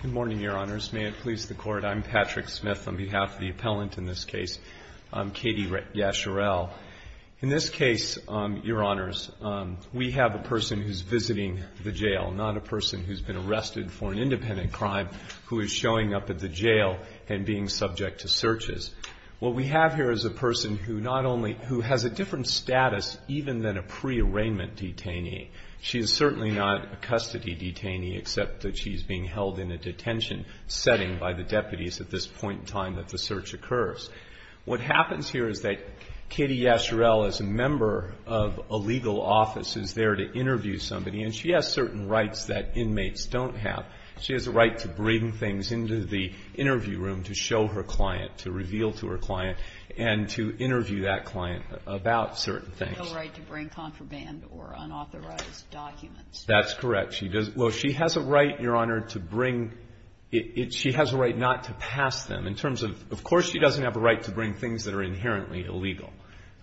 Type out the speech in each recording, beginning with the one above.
Good morning, Your Honors. May it please the Court, I'm Patrick Smith on behalf of the appellant in this case, Katie Yasharal. In this case, Your Honors, we have a person who's visiting the jail, not a person who's been arrested for an independent crime who is showing up at the jail and being subject to searches. What we have here is a person who not only, who has a different status even than a pre-arraignment detainee. She is certainly not a custody detainee except that she's being held in a detention setting by the deputies at this point in time that the search occurs. What happens here is that Katie Yasharal, as a member of a legal office, is there to interview somebody, and she has certain rights that inmates don't have. She has a right to bring things into the interview room to show her client, to reveal to her client, and to interview that client about certain things. She has no right to bring contraband or unauthorized documents. That's correct. Well, she has a right, Your Honor, to bring, she has a right not to pass them. In terms of, of course she doesn't have a right to bring things that are inherently illegal,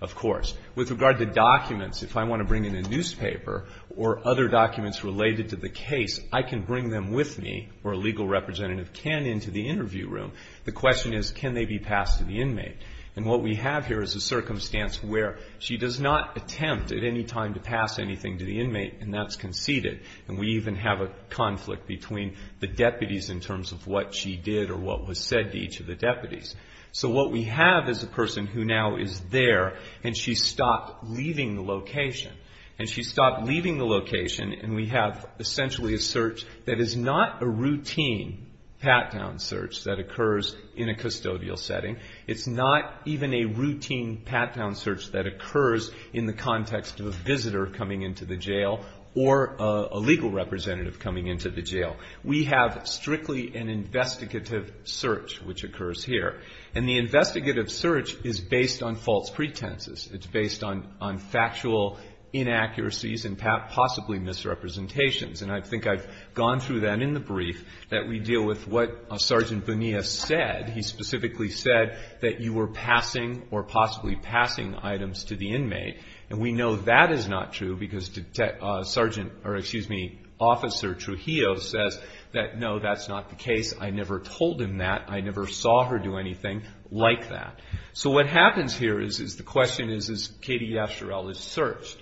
of course. With regard to documents, if I want to bring in a newspaper or other documents related to the case, I can bring them with me, or a legal representative can, into the interview room. The question is, can they be passed to the inmate? And what we have here is a circumstance where she does not attempt at any time to pass anything to the inmate, and that's conceded. And we even have a conflict between the deputies in terms of what she did or what was said to each of the deputies. So what we have is a person who now is there, and she stopped leaving the location. And she stopped leaving the location, and we have essentially a search that is not a routine pat-down search that occurs in a custodial setting. It's not even a routine pat-down search that occurs in the context of a visitor coming into the jail or a legal representative coming into the jail. We have strictly an investigative search which occurs here. And the investigative search is based on false pretenses. It's based on factual inaccuracies and possibly misrepresentations. And I think I've gone through that in the brief, that we deal with what Sergeant Bonilla said. He specifically said that you were passing or possibly passing items to the inmate. And we know that is not true because Detective Sergeant or, excuse me, Officer Trujillo says that, no, that's not the case. I never told him that. I never saw her do anything like that. So what happens here is the question is, is Katie Yasherelle is searched?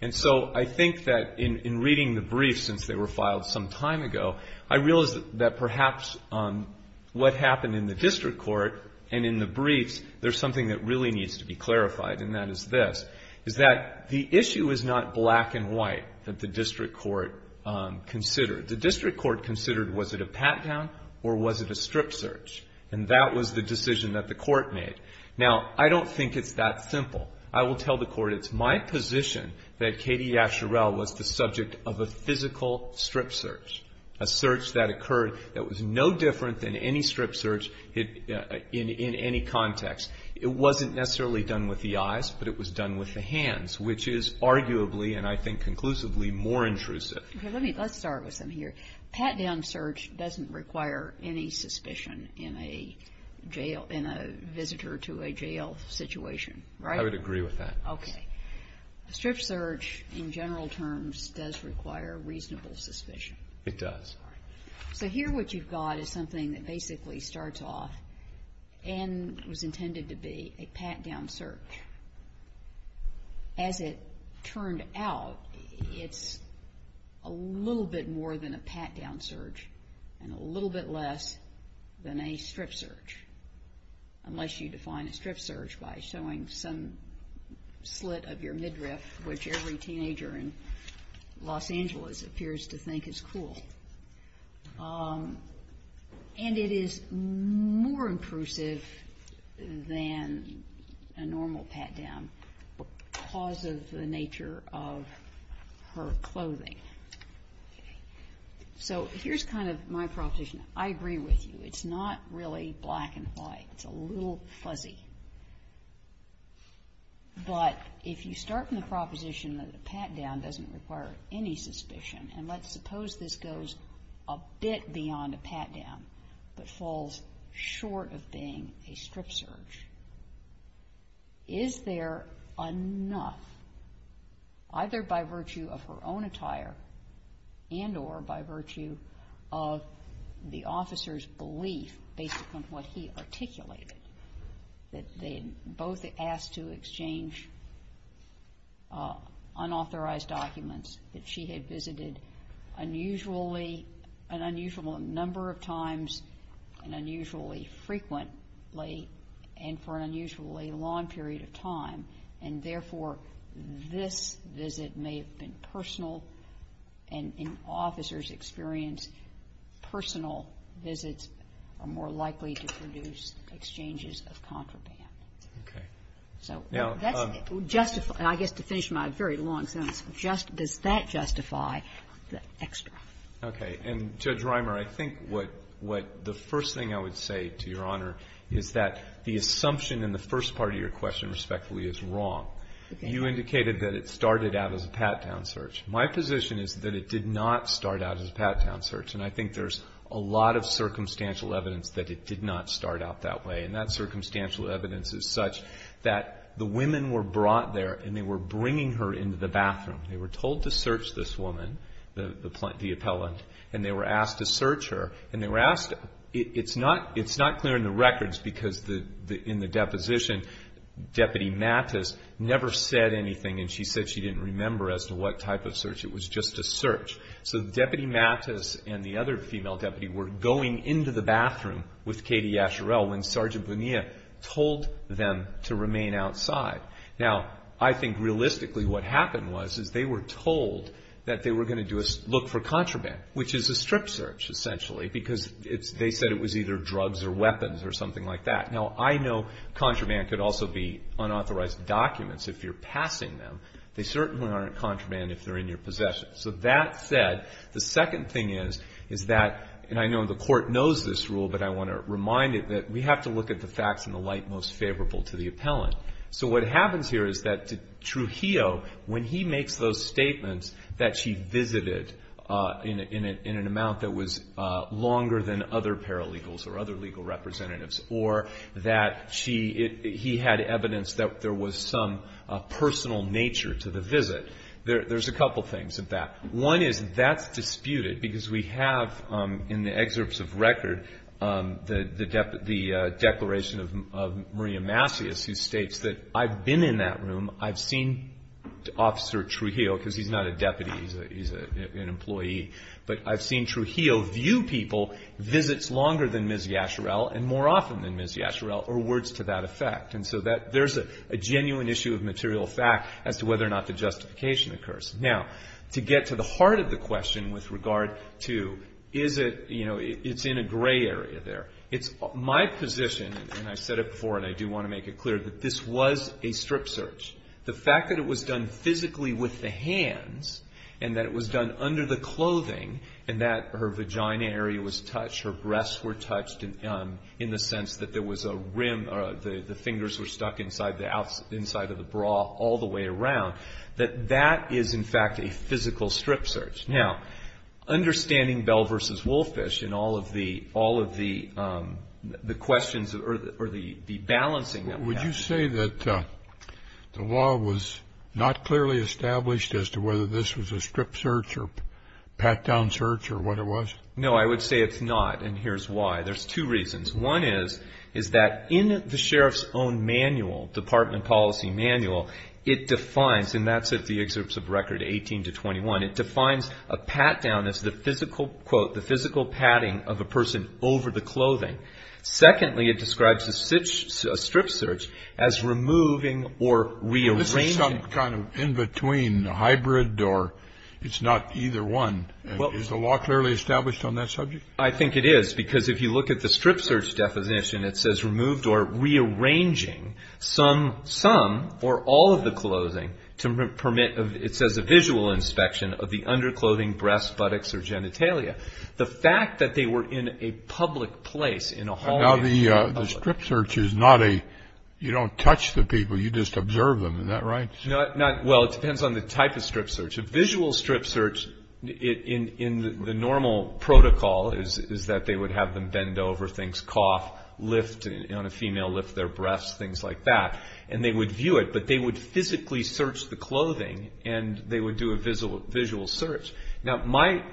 And so I think that in reading the brief since they were filed some time ago, I realized that perhaps what happened in the district court and in the briefs, there's something that really needs to be clarified, and that is this, is that the issue is not black and white that the district court considered. The district court considered, was it a pat-down or was it a strip search? And that was the decision that the court made. Now, I don't think it's that simple. I will tell the court it's my position that Katie Yasherelle was the subject of a physical strip search, a search that occurred that was no different than any strip search in any context. It wasn't necessarily done with the eyes, but it was done with the hands, which is arguably and I think conclusively more intrusive. Okay. Let's start with something here. Pat-down search doesn't require any suspicion in a jail, in a visitor to a jail situation, right? I would agree with that. Okay. A strip search in general terms does require reasonable suspicion. It does. All right. So here what you've got is something that basically starts off and was intended to be a pat-down search. As it turned out, it's a little bit more than a pat-down search and a little bit less than a strip search, unless you define a strip search by showing some slit of your midriff, which every teenager in Los Angeles appears to think is cool. And it is more intrusive than a normal pat-down because of the nature of her clothing. So here's kind of my proposition. I agree with you. It's not really black and white. It's a little fuzzy. But if you start in the proposition that a pat-down doesn't require any suspicion, and let's suppose this goes a bit beyond a pat-down but falls short of being a strip search, is there enough, either by virtue of her own attire and or by virtue of the officer's belief, based upon what he articulated, that they both asked to exchange unauthorized documents that she had visited an unusual number of times and unusually frequently and for an unusually long period of time, and therefore this visit may have been personal and, in officer's experience, personal visits are more likely to produce exchanges of contraband? Okay. So that's justified. I guess to finish my very long sentence, does that justify the extra? Okay. And, Judge Reimer, I think what the first thing I would say to Your Honor is that the assumption in the first part of your question, respectfully, is wrong. You indicated that it started out as a pat-down search. My position is that it did not start out as a pat-down search, and I think there's a lot of circumstantial evidence that it did not start out that way. And that circumstantial evidence is such that the women were brought there and they were bringing her into the bathroom. They were told to search this woman, the appellant, and they were asked to search her. And they were asked to. It's not clear in the records because in the deposition Deputy Mattis never said anything, and she said she didn't remember as to what type of search. It was just a search. So Deputy Mattis and the other female deputy were going into the bathroom with Katie Asharel when Sergeant Bonilla told them to remain outside. Now, I think realistically what happened was is they were told that they were going to look for contraband, which is a strip search, essentially, because they said it was either drugs or weapons or something like that. Now, I know contraband could also be unauthorized documents if you're passing them. They certainly aren't contraband if they're in your possession. So that said, the second thing is that, and I know the Court knows this rule, but I want to remind it that we have to look at the facts in the light most favorable to the appellant. So what happens here is that Trujillo, when he makes those statements that she visited in an amount that was longer than other paralegals or other legal representatives or that he had evidence that there was some personal nature to the visit, there's a couple things of that. One is that's disputed because we have in the excerpts of record the declaration of Maria Masias who states that I've been in that room, I've seen Officer Trujillo, because he's not a deputy, he's an employee, but I've seen Trujillo view people, visits longer than Ms. Yasherell and more often than Ms. Yasherell, or words to that effect. And so there's a genuine issue of material fact as to whether or not the justification occurs. Now, to get to the heart of the question with regard to is it, you know, it's in a gray area there. It's my position, and I've said it before and I do want to make it clear, that this was a strip search. The fact that it was done physically with the hands and that it was done under the clothing and that her vagina area was touched, her breasts were touched in the sense that there was a rim, the fingers were stuck inside of the bra all the way around, that that is in fact a physical strip search. Now, understanding Bell v. Wolfish and all of the questions or the balancing of that. Would you say that the law was not clearly established as to whether this was a strip search or pat-down search or what it was? No, I would say it's not, and here's why. There's two reasons. One is that in the sheriff's own manual, department policy manual, it defines, and that's at the excerpts of record 18 to 21, it defines a pat-down as the physical, quote, the physical patting of a person over the clothing. Secondly, it describes a strip search as removing or rearranging. This is some kind of in-between, a hybrid or it's not either one. Is the law clearly established on that subject? I think it is because if you look at the strip search definition, it says removed or rearranging some or all of the clothing to permit, it says, a visual inspection of the underclothing, breasts, buttocks, or genitalia. The fact that they were in a public place, in a hall. Now, the strip search is not a, you don't touch the people, you just observe them. Is that right? Well, it depends on the type of strip search. A visual strip search in the normal protocol is that they would have them bend over things, cough, lift on a female, lift their breasts, things like that. And they would view it, but they would physically search the clothing and they would do a visual search. Now, my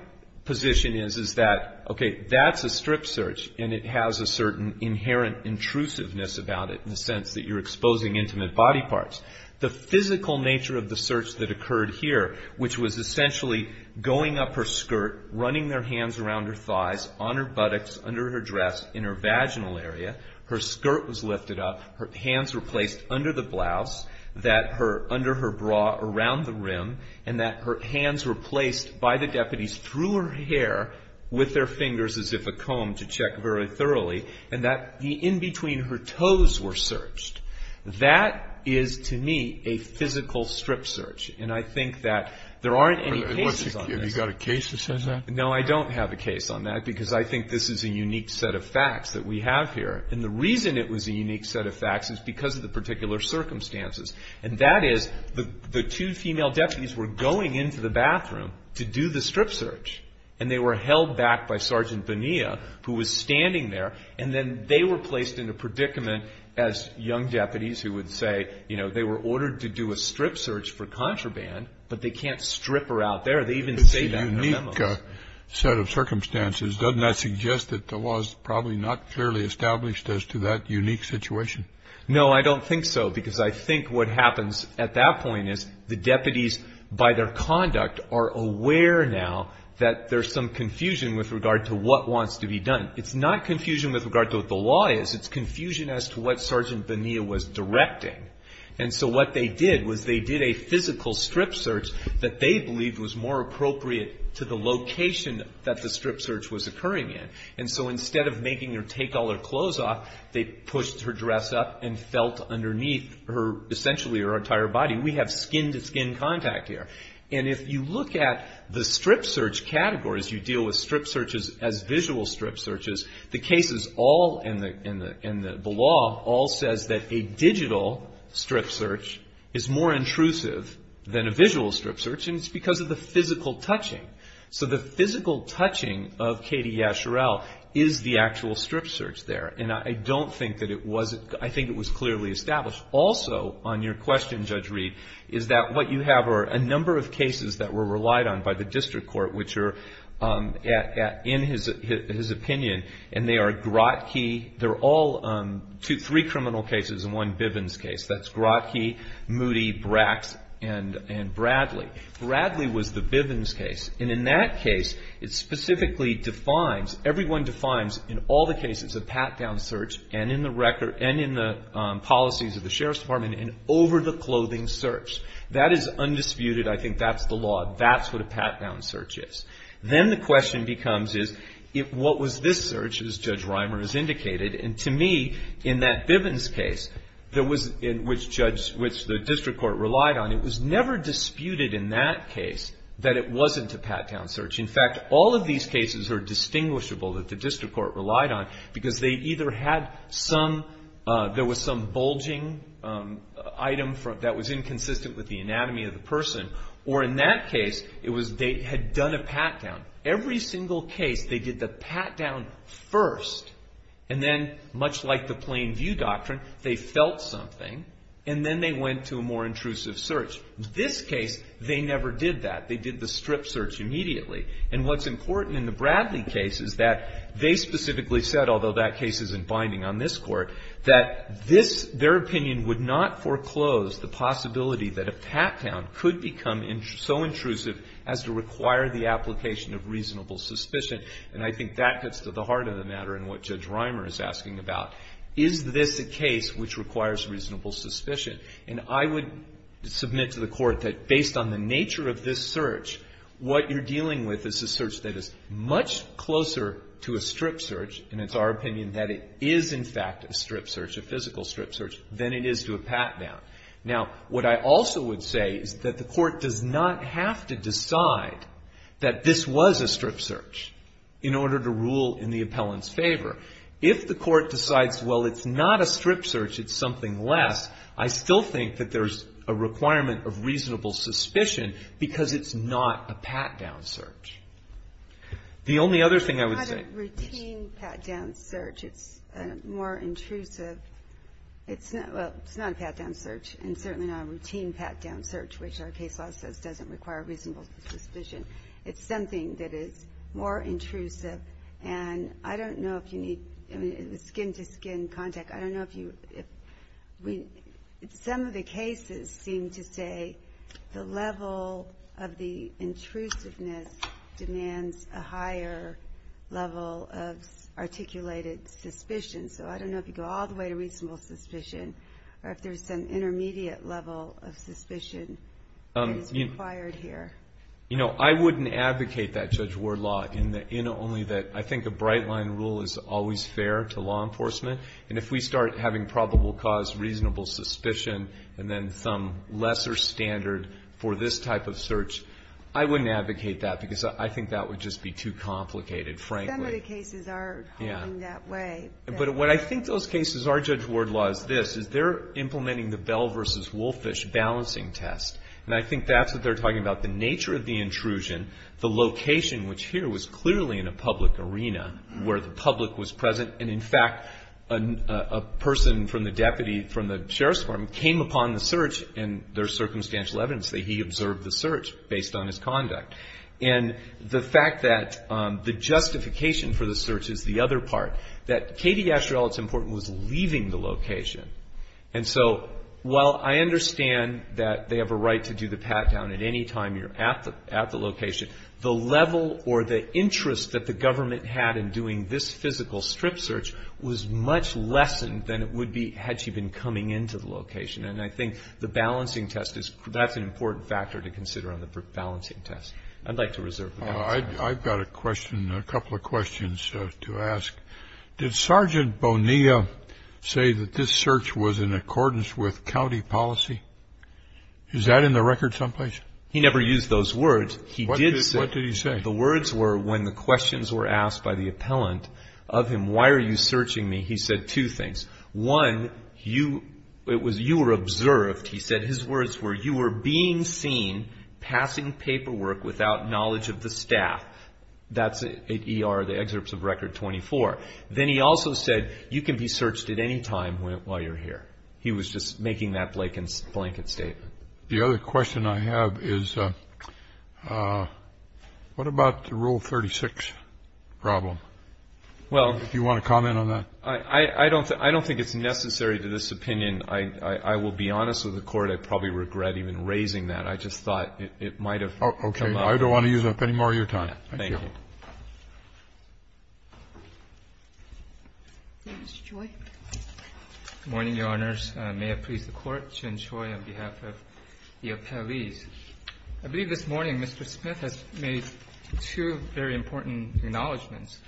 position is that, okay, that's a strip search and it has a certain inherent intrusiveness about it in the sense that you're exposing intimate body parts. The physical nature of the search that occurred here, which was essentially going up her skirt, running their hands around her thighs, on her buttocks, under her dress, in her vaginal area, her skirt was lifted up, her hands were placed under the blouse, under her bra, around the rim, and that her hands were placed by the deputies through her hair, with their fingers as if a comb to check very thoroughly, and that in between her toes were searched. That is, to me, a physical strip search. And I think that there aren't any cases on this. No, I don't have a case on that because I think this is a unique set of facts that we have here. And the reason it was a unique set of facts is because of the particular circumstances. And that is the two female deputies were going into the bathroom to do the strip search and they were held back by Sergeant Bonilla, who was standing there, and then they were placed in a predicament as young deputies who would say, you know, they were ordered to do a strip search for contraband, but they can't strip her out there. They even say that in the memo. It's a unique set of circumstances. Doesn't that suggest that the law is probably not clearly established as to that unique situation? No, I don't think so because I think what happens at that point is the deputies, by their conduct, are aware now that there's some confusion with regard to what wants to be done. It's not confusion with regard to what the law is. It's confusion as to what Sergeant Bonilla was directing. And so what they did was they did a physical strip search that they believed was more appropriate to the location that the strip search was occurring in. And so instead of making her take all her clothes off, they pushed her dress up and felt underneath essentially her entire body. We have skin-to-skin contact here. And if you look at the strip search categories, you deal with strip searches as visual strip searches, the cases all in the law all says that a digital strip search is more intrusive than a visual strip search, and it's because of the physical touching. So the physical touching of Katie Yasherell is the actual strip search there. And I don't think that it was. I think it was clearly established. Also on your question, Judge Reed, is that what you have are a number of cases that were relied on by the district court, which are in his opinion, and they are Grotke. They're all three criminal cases and one Bivens case. That's Grotke, Moody, Brax, and Bradley. Bradley was the Bivens case, and in that case, it specifically defines, everyone defines in all the cases a pat-down search and in the policies of the Sheriff's Department an over-the-clothing search. That is undisputed. I think that's the law. That's what a pat-down search is. Then the question becomes is, what was this search, as Judge Reimer has indicated? And to me, in that Bivens case, which the district court relied on, it was never disputed in that case that it wasn't a pat-down search. In fact, all of these cases are distinguishable that the district court relied on because they either had some, there was some bulging item that was inconsistent with the anatomy of the person, or in that case, it was they had done a pat-down. Every single case, they did the pat-down first, and then, much like the Plain View Doctrine, they felt something, and then they went to a more intrusive search. This case, they never did that. They did the strip search immediately. And what's important in the Bradley case is that they specifically said, although that case isn't binding on this court, that this, their opinion would not foreclose the possibility that a pat-down could become so intrusive as to require the application of reasonable suspicion. And I think that gets to the heart of the matter and what Judge Reimer is asking about. Is this a case which requires reasonable suspicion? And I would submit to the court that based on the nature of this search, what you're dealing with is a search that is much closer to a strip search, and it's our opinion that it is, in fact, a strip search, a physical strip search, than it is to a pat-down. Now, what I also would say is that the court does not have to decide that this was a strip search in order to rule in the appellant's favor. If the court decides, well, it's not a strip search, it's something less, I still think that there's a requirement of reasonable suspicion because it's not a pat-down search. The only other thing I would say is... It's not a routine pat-down search. It's more intrusive. It's not a pat-down search, and certainly not a routine pat-down search, which our case law says doesn't require reasonable suspicion. It's something that is more intrusive, and I don't know if you need skin-to-skin contact. I don't know if you... Some of the cases seem to say the level of the intrusiveness demands a higher level of articulated suspicion, so I don't know if you go all the way to reasonable suspicion, or if there's some intermediate level of suspicion that is required here. You know, I wouldn't advocate that Judge Ward law, only that I think a bright-line rule is always fair to law enforcement, and if we start having probable cause, reasonable suspicion, and then some lesser standard for this type of search, I wouldn't advocate that because I think that would just be too complicated, frankly. Some of the cases are going that way. But what I think those cases are, Judge Ward law, is this, is they're implementing the Bell v. Wolfish balancing test, and I think that's what they're talking about, the nature of the intrusion, the location, which here was clearly in a public arena where the public was present, and in fact, a person from the deputy from the sheriff's department came upon the search, and there's circumstantial evidence that he observed the search based on his conduct. And the fact that the justification for the search is the other part, that Katie Yasherel, it's important, was leaving the location. And so while I understand that they have a right to do the pat-down at any time you're at the location, the level or the interest that the government had in doing this physical strip search was much less than it would be had she been coming into the location. And I think the balancing test, that's an important factor to consider on the balancing test. I'd like to reserve the balance. I've got a question, a couple of questions to ask. Did Sergeant Bonilla say that this search was in accordance with county policy? Is that in the record someplace? He never used those words. What did he say? The words were when the questions were asked by the appellant of him, why are you searching me, he said two things. One, it was you were observed, he said. His words were you were being seen passing paperwork without knowledge of the staff. That's at ER, the excerpts of Record 24. Then he also said you can be searched at any time while you're here. He was just making that blanket statement. The other question I have is what about the Rule 36 problem? If you want to comment on that. I don't think it's necessary to this opinion. I will be honest with the Court. I probably regret even raising that. I just thought it might have come up. Okay. I don't want to use up any more of your time. Thank you. Thank you. Good morning, Your Honors. I may have pleased the Court to enjoy on behalf of the appellees. I believe this morning Mr. Smith has made two very important acknowledgments.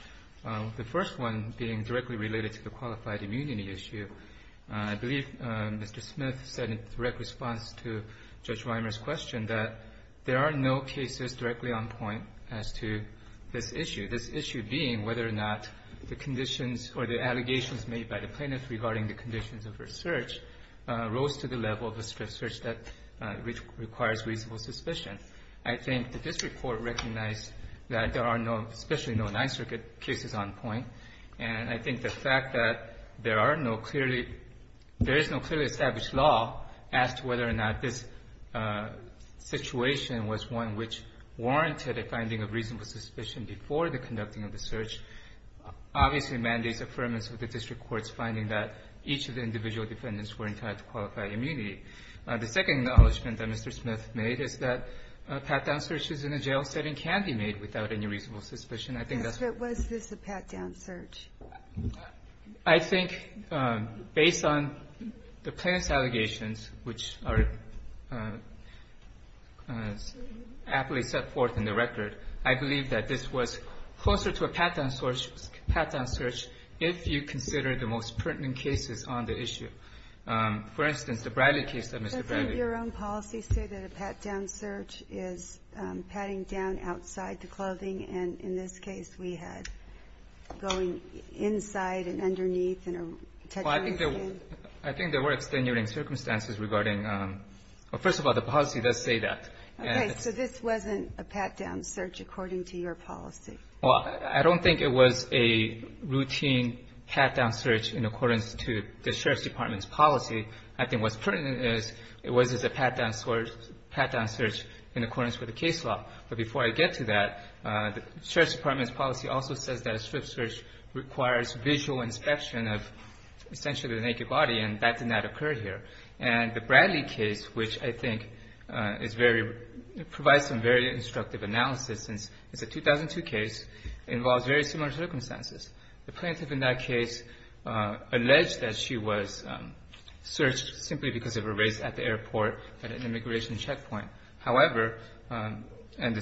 The first one being directly related to the qualified immunity issue. I believe Mr. Smith said in direct response to Judge Reimer's question that there are no cases directly on point as to this issue. This issue being whether or not the conditions or the allegations made by the plaintiff regarding the conditions of her search rose to the level of a search that requires reasonable suspicion. I think that this report recognized that there are no, especially no, Ninth Circuit cases on point. And I think the fact that there are no clearly – there is no clearly established law as to whether or not this situation was one which warranted a finding of reasonable suspicion before the conducting of the search obviously mandates affirmance of the district court's finding that each of the individual defendants were entitled to qualified immunity. The second acknowledgment that Mr. Smith made is that pat-down searches in a jail setting can be made without any reasonable suspicion. I think that's what – Was this a pat-down search? I think based on the plaintiff's allegations, which are aptly set forth in the record, I believe that this was closer to a pat-down search if you consider the most pertinent cases on the issue. For instance, the Bradley case that Mr. Bradley – Didn't your own policy say that a pat-down search is patting down outside the clothing? And in this case, we had going inside and underneath and – Well, I think there were extenuating circumstances regarding – well, first of all, the policy does say that. Okay. So this wasn't a pat-down search according to your policy? Well, I don't think it was a routine pat-down search in accordance to the Sheriff's Department's policy. I think what's pertinent is it was a pat-down search in accordance with the case law. But before I get to that, the Sheriff's Department's policy also says that a strip search requires visual inspection of essentially the naked body, and that did not occur here. And the Bradley case, which I think is very – provides some very instructive analysis since it's a 2002 case, involves very similar circumstances. The plaintiff in that case alleged that she was searched simply because of her race at the airport at an immigration checkpoint. However, in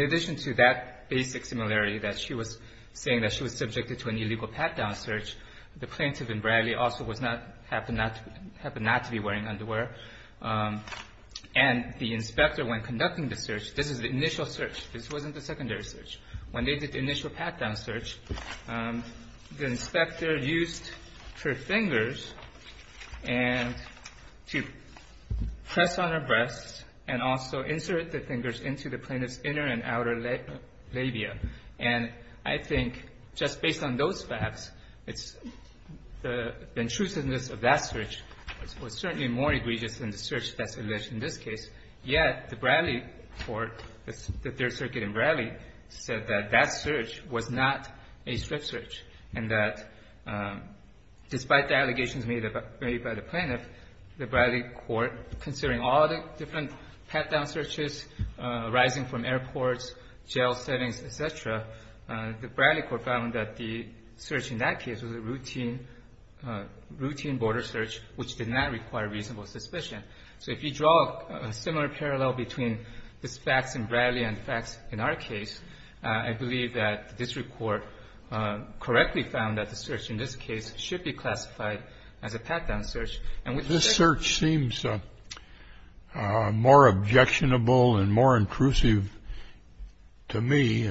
addition to that basic similarity that she was saying that she was subjected to an illegal pat-down search, the plaintiff in Bradley also was not – happened not to be wearing underwear. And the inspector, when conducting the search – this is the initial search. This wasn't the secondary search. When they did the initial pat-down search, the inspector used her fingers and – to press on her breasts and also insert the fingers into the plaintiff's inner and outer labia. And I think just based on those facts, it's – the intrusiveness of that search was certainly more egregious than the search that's alleged in this case. Yet the Bradley court, the Third Circuit in Bradley, said that that search was not a strip search and that despite the allegations made by the plaintiff, the Bradley court, considering all the different pat-down searches arising from airports, jail settings, et cetera, the Bradley court found that the search in that case was a routine border search which did not require reasonable suspicion. So if you draw a similar parallel between these facts in Bradley and the facts in our case, I believe that the district court correctly found that the search in this case should be classified as a pat-down search. This search seems more objectionable and more intrusive to me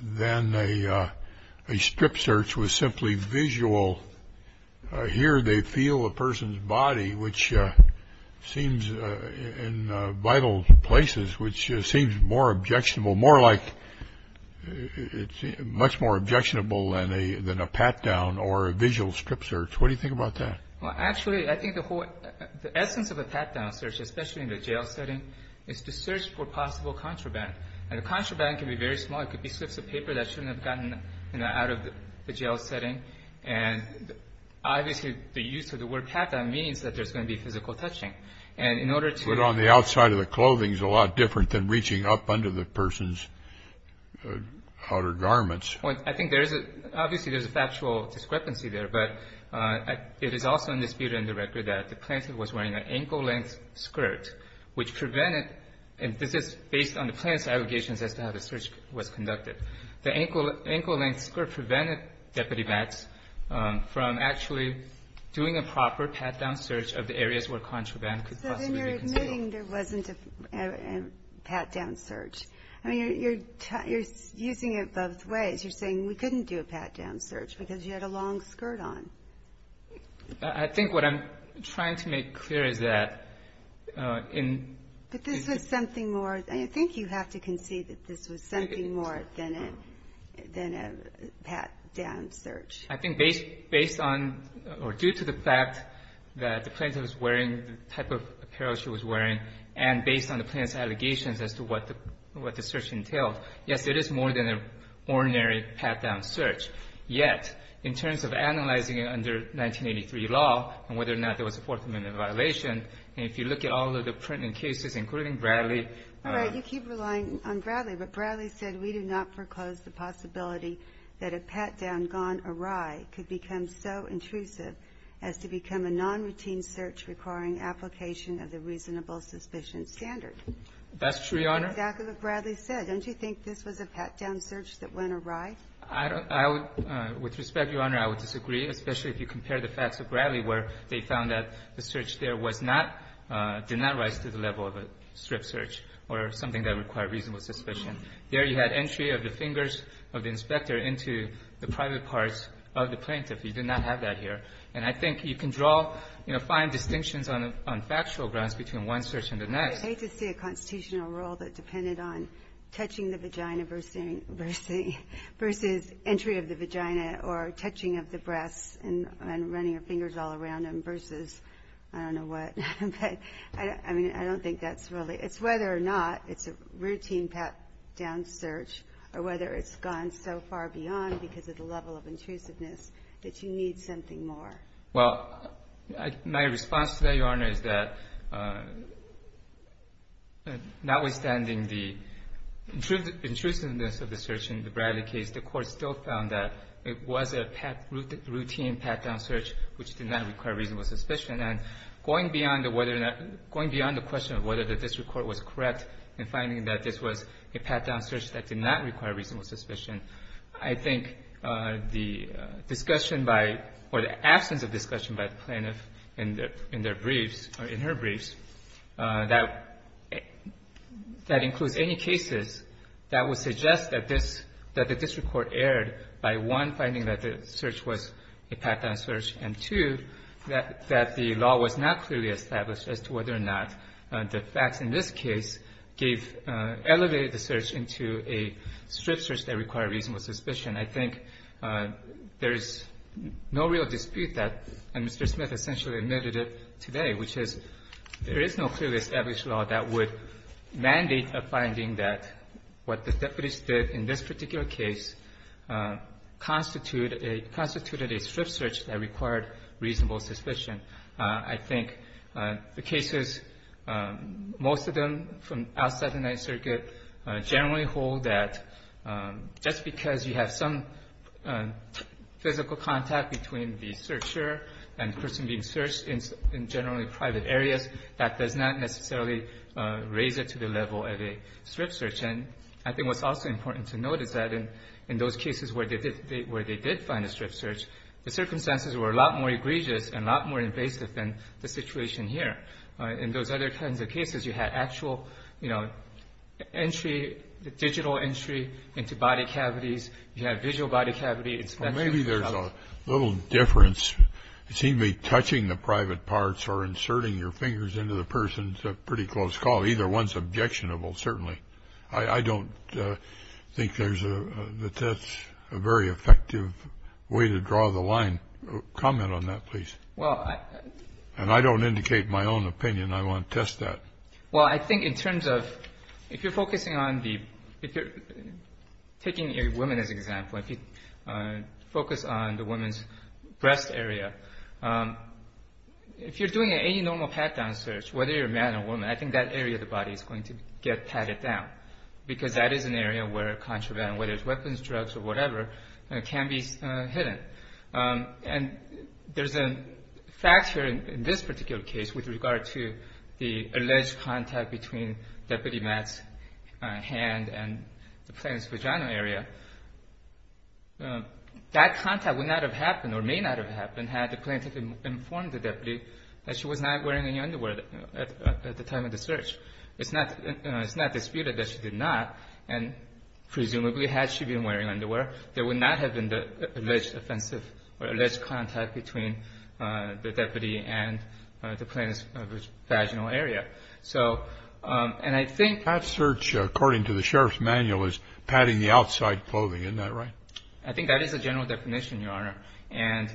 than a strip search was simply visual. Here they feel a person's body, which seems in vital places, which seems more objectionable, more like – it's much more objectionable than a pat-down or a visual strip search. What do you think about that? Well, actually, I think the whole – the essence of a pat-down search, especially in the jail setting, is to search for possible contraband. And the contraband can be very small. It could be slips of paper that shouldn't have gotten out of the jail setting. And obviously the use of the word pat-down means that there's going to be physical touching. And in order to – But on the outside of the clothing is a lot different than reaching up under the person's outer garments. Well, I think there's a – obviously there's a factual discrepancy there. But it is also in dispute in the record that the plaintiff was wearing an ankle-length skirt, which prevented – and this is based on the plaintiff's allegations as to how the search was conducted. The ankle-length skirt prevented Deputy Vance from actually doing a proper pat-down search of the areas where contraband could possibly be concealed. So then you're admitting there wasn't a pat-down search. I mean, you're using it both ways. You're saying we couldn't do a pat-down search because you had a long skirt on. I think what I'm trying to make clear is that in – But this was something more – I think you have to concede that this was something more than a pat-down search. I think based on – or due to the fact that the plaintiff was wearing the type of apparel she was wearing and based on the plaintiff's allegations as to what the search entailed, yes, it is more than an ordinary pat-down search. Yet, in terms of analyzing it under 1983 law and whether or not there was a Fourth Amendment violation, if you look at all of the print cases, including Bradley – All right. You keep relying on Bradley. But Bradley said we do not foreclose the possibility that a pat-down gone awry could become so intrusive as to become a nonroutine search requiring application of the reasonable suspicion standard. That's true, Your Honor. That's exactly what Bradley said. Don't you think this was a pat-down search that went awry? I would – with respect, Your Honor, I would disagree, especially if you compare the facts of Bradley where they found that the search there was not – did not rise to the level of a strip search or something that required reasonable suspicion. There you had entry of the fingers of the inspector into the private parts of the plaintiff. You did not have that here. And I think you can draw – you know, find distinctions on factual grounds between one search and the next. I'd hate to see a constitutional rule that depended on touching the vagina versus entry of the vagina or touching of the breasts and running your fingers all around them versus I don't know what. But, I mean, I don't think that's really – it's whether or not it's a routine pat-down search or whether it's gone so far beyond because of the level of intrusiveness that you need something more. Well, my response to that, Your Honor, is that notwithstanding the intrusiveness of the search in the Bradley case, the Court still found that it was a routine pat-down search which did not require reasonable suspicion. And going beyond the question of whether the district court was correct in finding that this was a pat-down search that did not require reasonable suspicion, I think the discussion by – or the absence of discussion by the plaintiff in their briefs or in her briefs, that includes any cases that would suggest that this – that the district court erred by, one, finding that the search was a pat-down search, and, two, that the law was not clearly established as to whether or not the facts in this case gave – elevated the search into a strip search that required reasonable suspicion. I think there is no real dispute that Mr. Smith essentially admitted it today, which is there is no clearly established law that would mandate a finding that what the deputies did in this particular case constituted a strip search that required reasonable suspicion. I think the cases, most of them from outside the Ninth Circuit, generally hold that just because you have some physical contact between the searcher and the person being searched in generally private areas, that does not necessarily raise it to the level of a strip search. And I think what's also important to note is that in those cases where they did find a strip search, the circumstances were a lot more egregious and a lot more invasive than the situation here. In those other kinds of cases, you had actual, you know, entry, digital entry into body cavities. You had visual body cavity inspection. Maybe there's a little difference. It seemed to be touching the private parts or inserting your fingers into the person is a pretty close call. Either one is objectionable, certainly. I don't think there's a very effective way to draw the line. Comment on that, please. And I don't indicate my own opinion. I want to test that. Well, I think in terms of if you're focusing on the, if you're taking a woman as an example, if you focus on the woman's breast area, if you're doing any normal pat-down search, whether you're a man or a woman, I think that area of the body is going to get tatted down because that is an area where contraband, whether it's weapons, drugs, or whatever, can be hidden. And there's a factor in this particular case with regard to the alleged contact between Deputy Matt's hand and the plaintiff's vaginal area. That contact would not have happened or may not have happened had the plaintiff informed the deputy that she was not wearing any underwear at the time of the search. It's not disputed that she did not, and presumably had she been wearing underwear, there would not have been the alleged offensive or alleged contact between the deputy and the plaintiff's vaginal area. So, and I think ---- That search, according to the sheriff's manual, is patting the outside clothing. Isn't that right? I think that is a general definition, Your Honor. And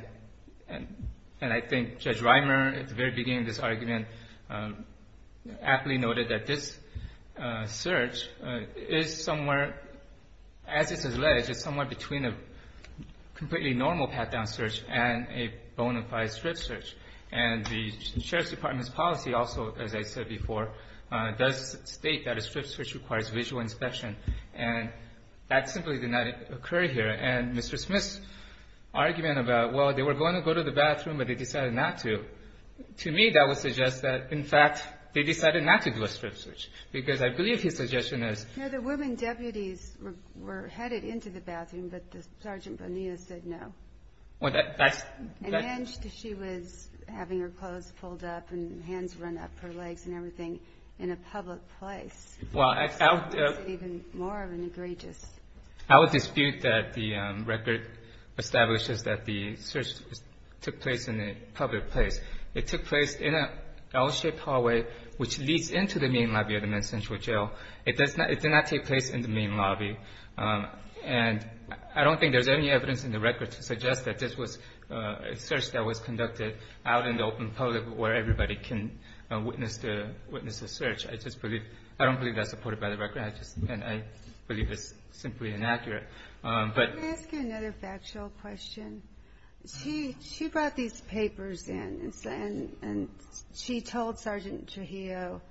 I think Judge Reimer, at the very beginning of this argument, aptly noted that this search is somewhere, as it's alleged, is somewhere between a completely normal pat-down search and a bona fide strip search. And the sheriff's department's policy also, as I said before, does state that a strip search requires visual inspection. And that simply did not occur here. And Mr. Smith's argument about, well, they were going to go to the bathroom, but they decided not to, to me that would suggest that, in fact, they decided not to do a strip search. Because I believe his suggestion is ---- The women deputies were headed into the bathroom, but Sergeant Bonilla said no. Well, that's ---- And then she was having her clothes pulled up and hands run up her legs and everything in a public place. Well, I would ---- It's even more of an egregious ---- I would dispute that the record establishes that the search took place in a public place. It took place in an L-shaped hallway, which leads into the main lobby of the Mid-Central Jail. It does not ---- it did not take place in the main lobby. And I don't think there's any evidence in the record to suggest that this was a search that was conducted out in the open public where everybody can witness the search. I just believe ---- I don't believe that's supported by the record. I just ---- and I believe it's simply inaccurate. But ---- Can I ask you another factual question? She brought these papers in, and she told Sergeant Trujillo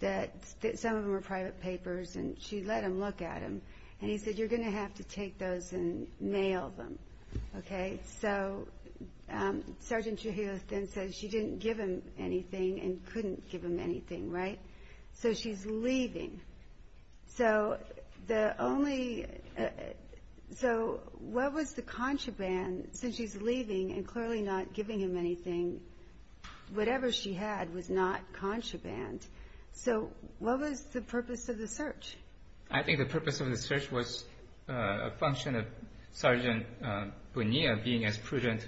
that some of them were private papers, and she let him look at them. And he said, you're going to have to take those and mail them. Okay? So Sergeant Trujillo then said she didn't give him anything and couldn't give him anything, right? So she's leaving. So the only ---- so what was the contraband since she's leaving and clearly not giving him anything? Whatever she had was not contraband. So what was the purpose of the search? I think the purpose of the search was a function of Sergeant Bonilla being as of a jail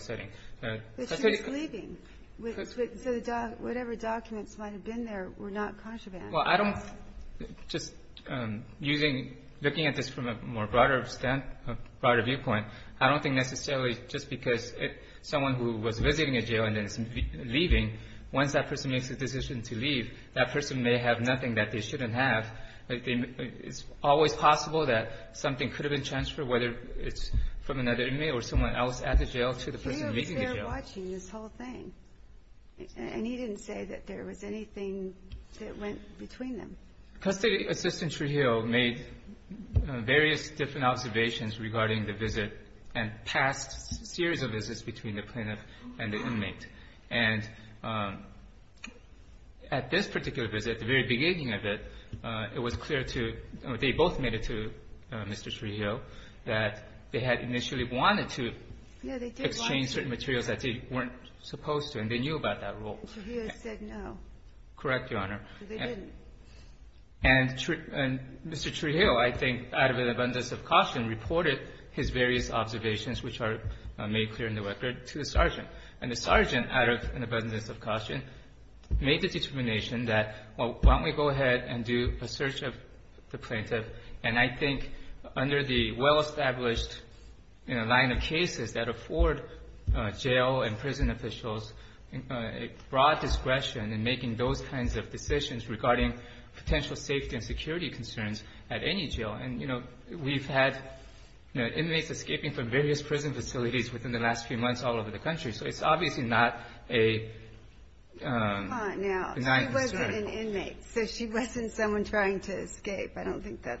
setting. But she was leaving. So whatever documents might have been there were not contraband. Well, I don't ---- just using ---- looking at this from a more broader standpoint, a broader viewpoint, I don't think necessarily just because someone who was visiting a jail and is leaving, once that person makes a decision to leave, that person may have nothing that they shouldn't have. It's always possible that something could have been transferred, whether it's from another inmate or someone else at the jail to the person leaving the jail. Trujillo was there watching this whole thing. And he didn't say that there was anything that went between them. Custody Assistant Trujillo made various different observations regarding the visit and past series of visits between the plaintiff and the inmate. And at this particular visit, the very beginning of it, it was clear to ---- they both made it to Mr. Trujillo that they had initially wanted to exchange certain materials that they weren't supposed to. And they knew about that rule. Trujillo said no. Correct, Your Honor. So they didn't. And Mr. Trujillo, I think, out of an abundance of caution, reported his various observations, which are made clear in the record, to the sergeant. And the sergeant, out of an abundance of caution, made the determination that, well, why don't we go ahead and do a search of the plaintiff. And I think under the well-established line of cases that afford jail and prison officials broad discretion in making those kinds of decisions regarding potential safety and security concerns at any jail. And, you know, we've had inmates escaping from various prison facilities within the last few months all over the country. So it's obviously not a ---- It wasn't an inmate. So she wasn't someone trying to escape. I don't think that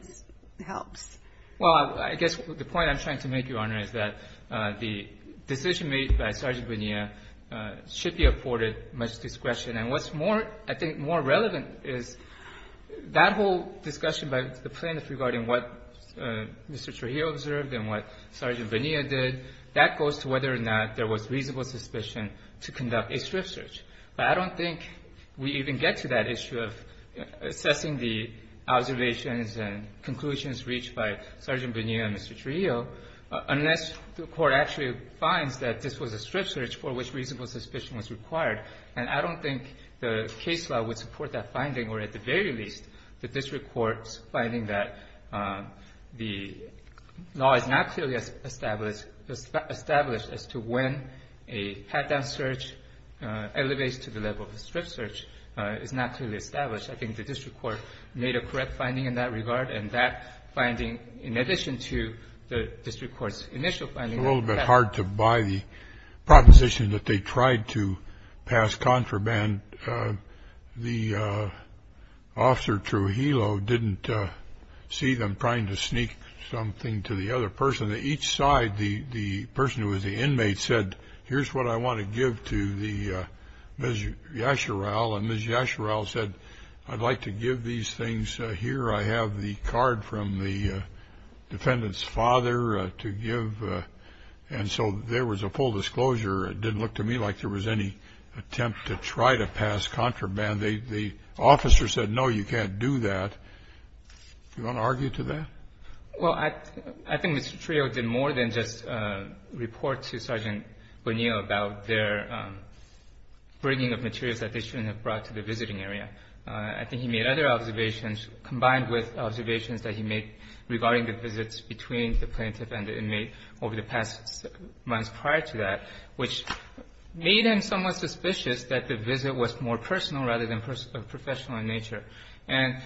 helps. Well, I guess the point I'm trying to make, Your Honor, is that the decision made by Sergeant Bonilla should be afforded much discretion. And what's more, I think, more relevant is that whole discussion about the plaintiff regarding what Mr. Trujillo observed and what Sergeant Bonilla did, that goes to whether or not there was reasonable suspicion to conduct a strip search. But I don't think we even get to that issue of assessing the observations and conclusions reached by Sergeant Bonilla and Mr. Trujillo unless the Court actually finds that this was a strip search for which reasonable suspicion was required. And I don't think the case law would support that finding, or at the very least the district court's finding that the law is not clearly established as to when a strip search is not clearly established. I think the district court made a correct finding in that regard. And that finding, in addition to the district court's initial finding ---- It's a little bit hard to buy the proposition that they tried to pass contraband. The officer, Trujillo, didn't see them trying to sneak something to the other person. And each side, the person who was the inmate said, here's what I want to give to Ms. Yasherell. And Ms. Yasherell said, I'd like to give these things here. I have the card from the defendant's father to give. And so there was a full disclosure. It didn't look to me like there was any attempt to try to pass contraband. The officer said, no, you can't do that. Do you want to argue to that? Well, I think Mr. Trujillo did more than just report to Sergeant Bonilla about their bringing of materials that they shouldn't have brought to the visiting area. I think he made other observations, combined with observations that he made regarding the visits between the plaintiff and the inmate over the past months prior to that, which made him somewhat suspicious that the visit was more personal rather than professional in nature. And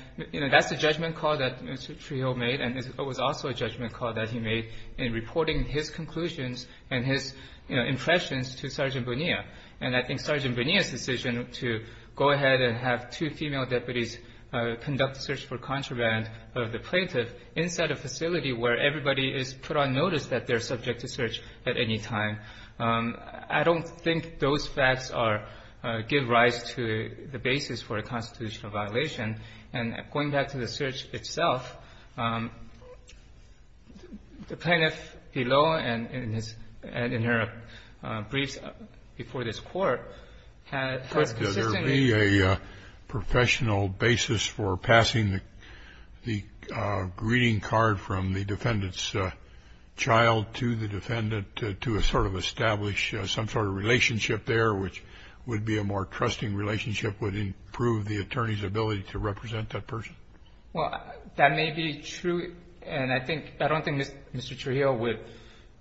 that's the judgment call that Mr. Trujillo made, and it was also a judgment call that he made in reporting his conclusions and his impressions to Sergeant Bonilla. And I think Sergeant Bonilla's decision to go ahead and have two female deputies conduct a search for contraband of the plaintiff inside a facility where everybody is put on notice that they're subject to search at any time, I don't think those facts give rise to the basis for a constitutional violation. And going back to the search itself, the plaintiff below and in her briefs before this Court has consistently been a professional basis for passing the greeting card from the defendant's child to the defendant to sort of establish some sort of relationship with the plaintiff. So I don't think Mr. Trujillo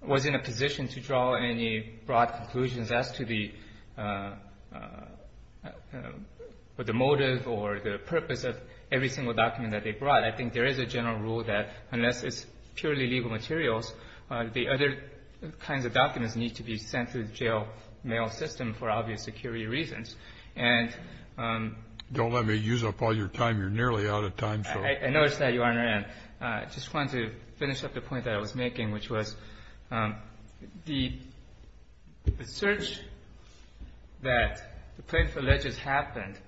was in a position to draw any broad conclusions as to the motive or the purpose of every single document that they brought. I think there is a general rule that unless it's purely legal materials, the other kinds of documents need to be sent through the jail mail system for obvious security reasons. And ‑‑ Don't let me use up all your time. You're nearly out of time. I notice that, Your Honor. And I just wanted to finish up the point that I was making, which was the search that the plaintiff alleged happened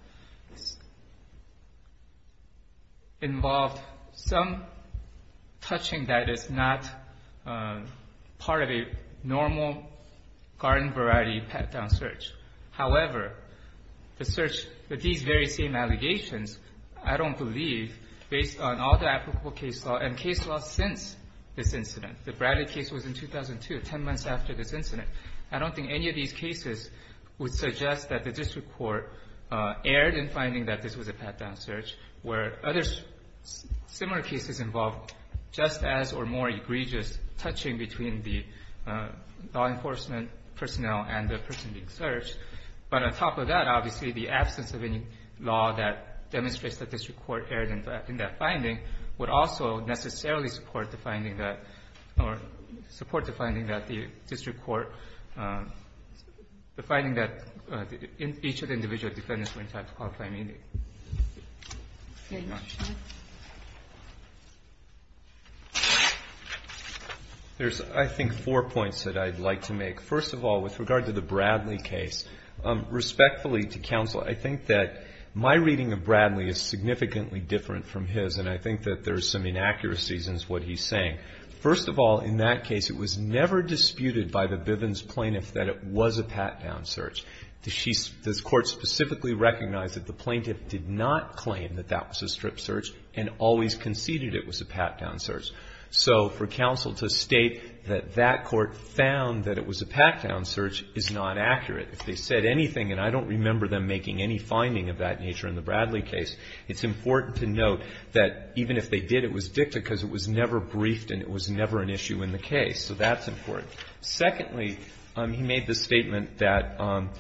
involved some touching that is not part of a normal garden-variety pat-down search. However, the search with these very same allegations, I don't believe, based on all the applicable case law and case law since this incident. The Bradley case was in 2002, 10 months after this incident. I don't think any of these cases would suggest that the district court erred in finding that this was a pat-down search, where other similar cases involved just as or more law enforcement personnel and the person being searched. But on top of that, obviously, the absence of any law that demonstrates that the district court erred in that finding would also necessarily support the finding that ‑‑ or support the finding that the district court ‑‑ the finding that each of the individual defendants went to a qualified meeting. Thank you. Thank you very much. There's, I think, four points that I'd like to make. First of all, with regard to the Bradley case, respectfully to counsel, I think that my reading of Bradley is significantly different from his, and I think that there's some inaccuracies in what he's saying. First of all, in that case, it was never disputed by the Bivens plaintiff that it was a pat-down search. The court specifically recognized that the plaintiff did not claim that that was a strip search and always conceded it was a pat-down search. So for counsel to state that that court found that it was a pat-down search is not accurate. If they said anything, and I don't remember them making any finding of that nature in the Bradley case, it's important to note that even if they did, it was dicta because it was never briefed and it was never an issue in the case. So that's important. Secondly, he made the statement that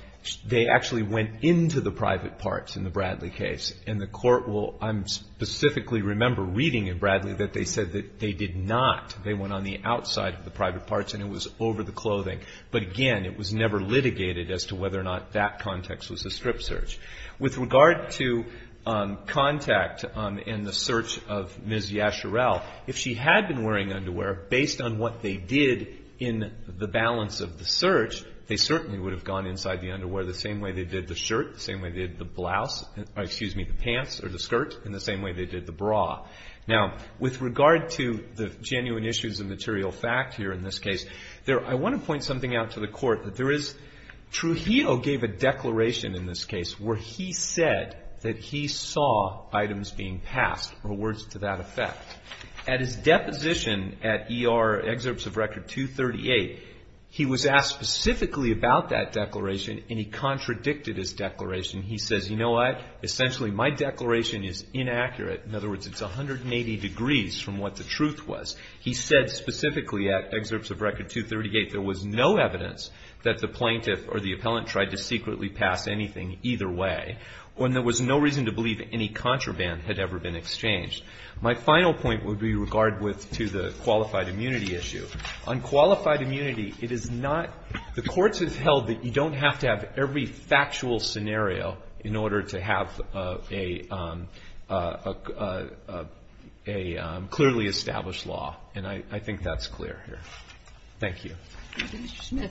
they actually went into the private parts in the Bradley case. And the court will specifically remember reading in Bradley that they said that they did not. They went on the outside of the private parts and it was over the clothing. But again, it was never litigated as to whether or not that context was a strip search. With regard to contact and the search of Ms. Yasherell, if she had been wearing the underwear, based on what they did in the balance of the search, they certainly would have gone inside the underwear the same way they did the shirt, the same way they did the blouse, excuse me, the pants or the skirt, and the same way they did the bra. Now, with regard to the genuine issues of material fact here in this case, I want to point something out to the court. Trujillo gave a declaration in this case where he said that he saw items being passed or words to that effect. At his deposition at ER Excerpts of Record 238, he was asked specifically about that declaration and he contradicted his declaration. He says, you know what, essentially my declaration is inaccurate. In other words, it's 180 degrees from what the truth was. He said specifically at Excerpts of Record 238 there was no evidence that the plaintiff or the appellant tried to secretly pass anything either way, or there was no reason to believe any contraband had ever been exchanged. My final point would be with regard to the qualified immunity issue. On qualified immunity, it is not the courts have held that you don't have to have every factual scenario in order to have a clearly established law, and I think that's clear here. Thank you. Kagan.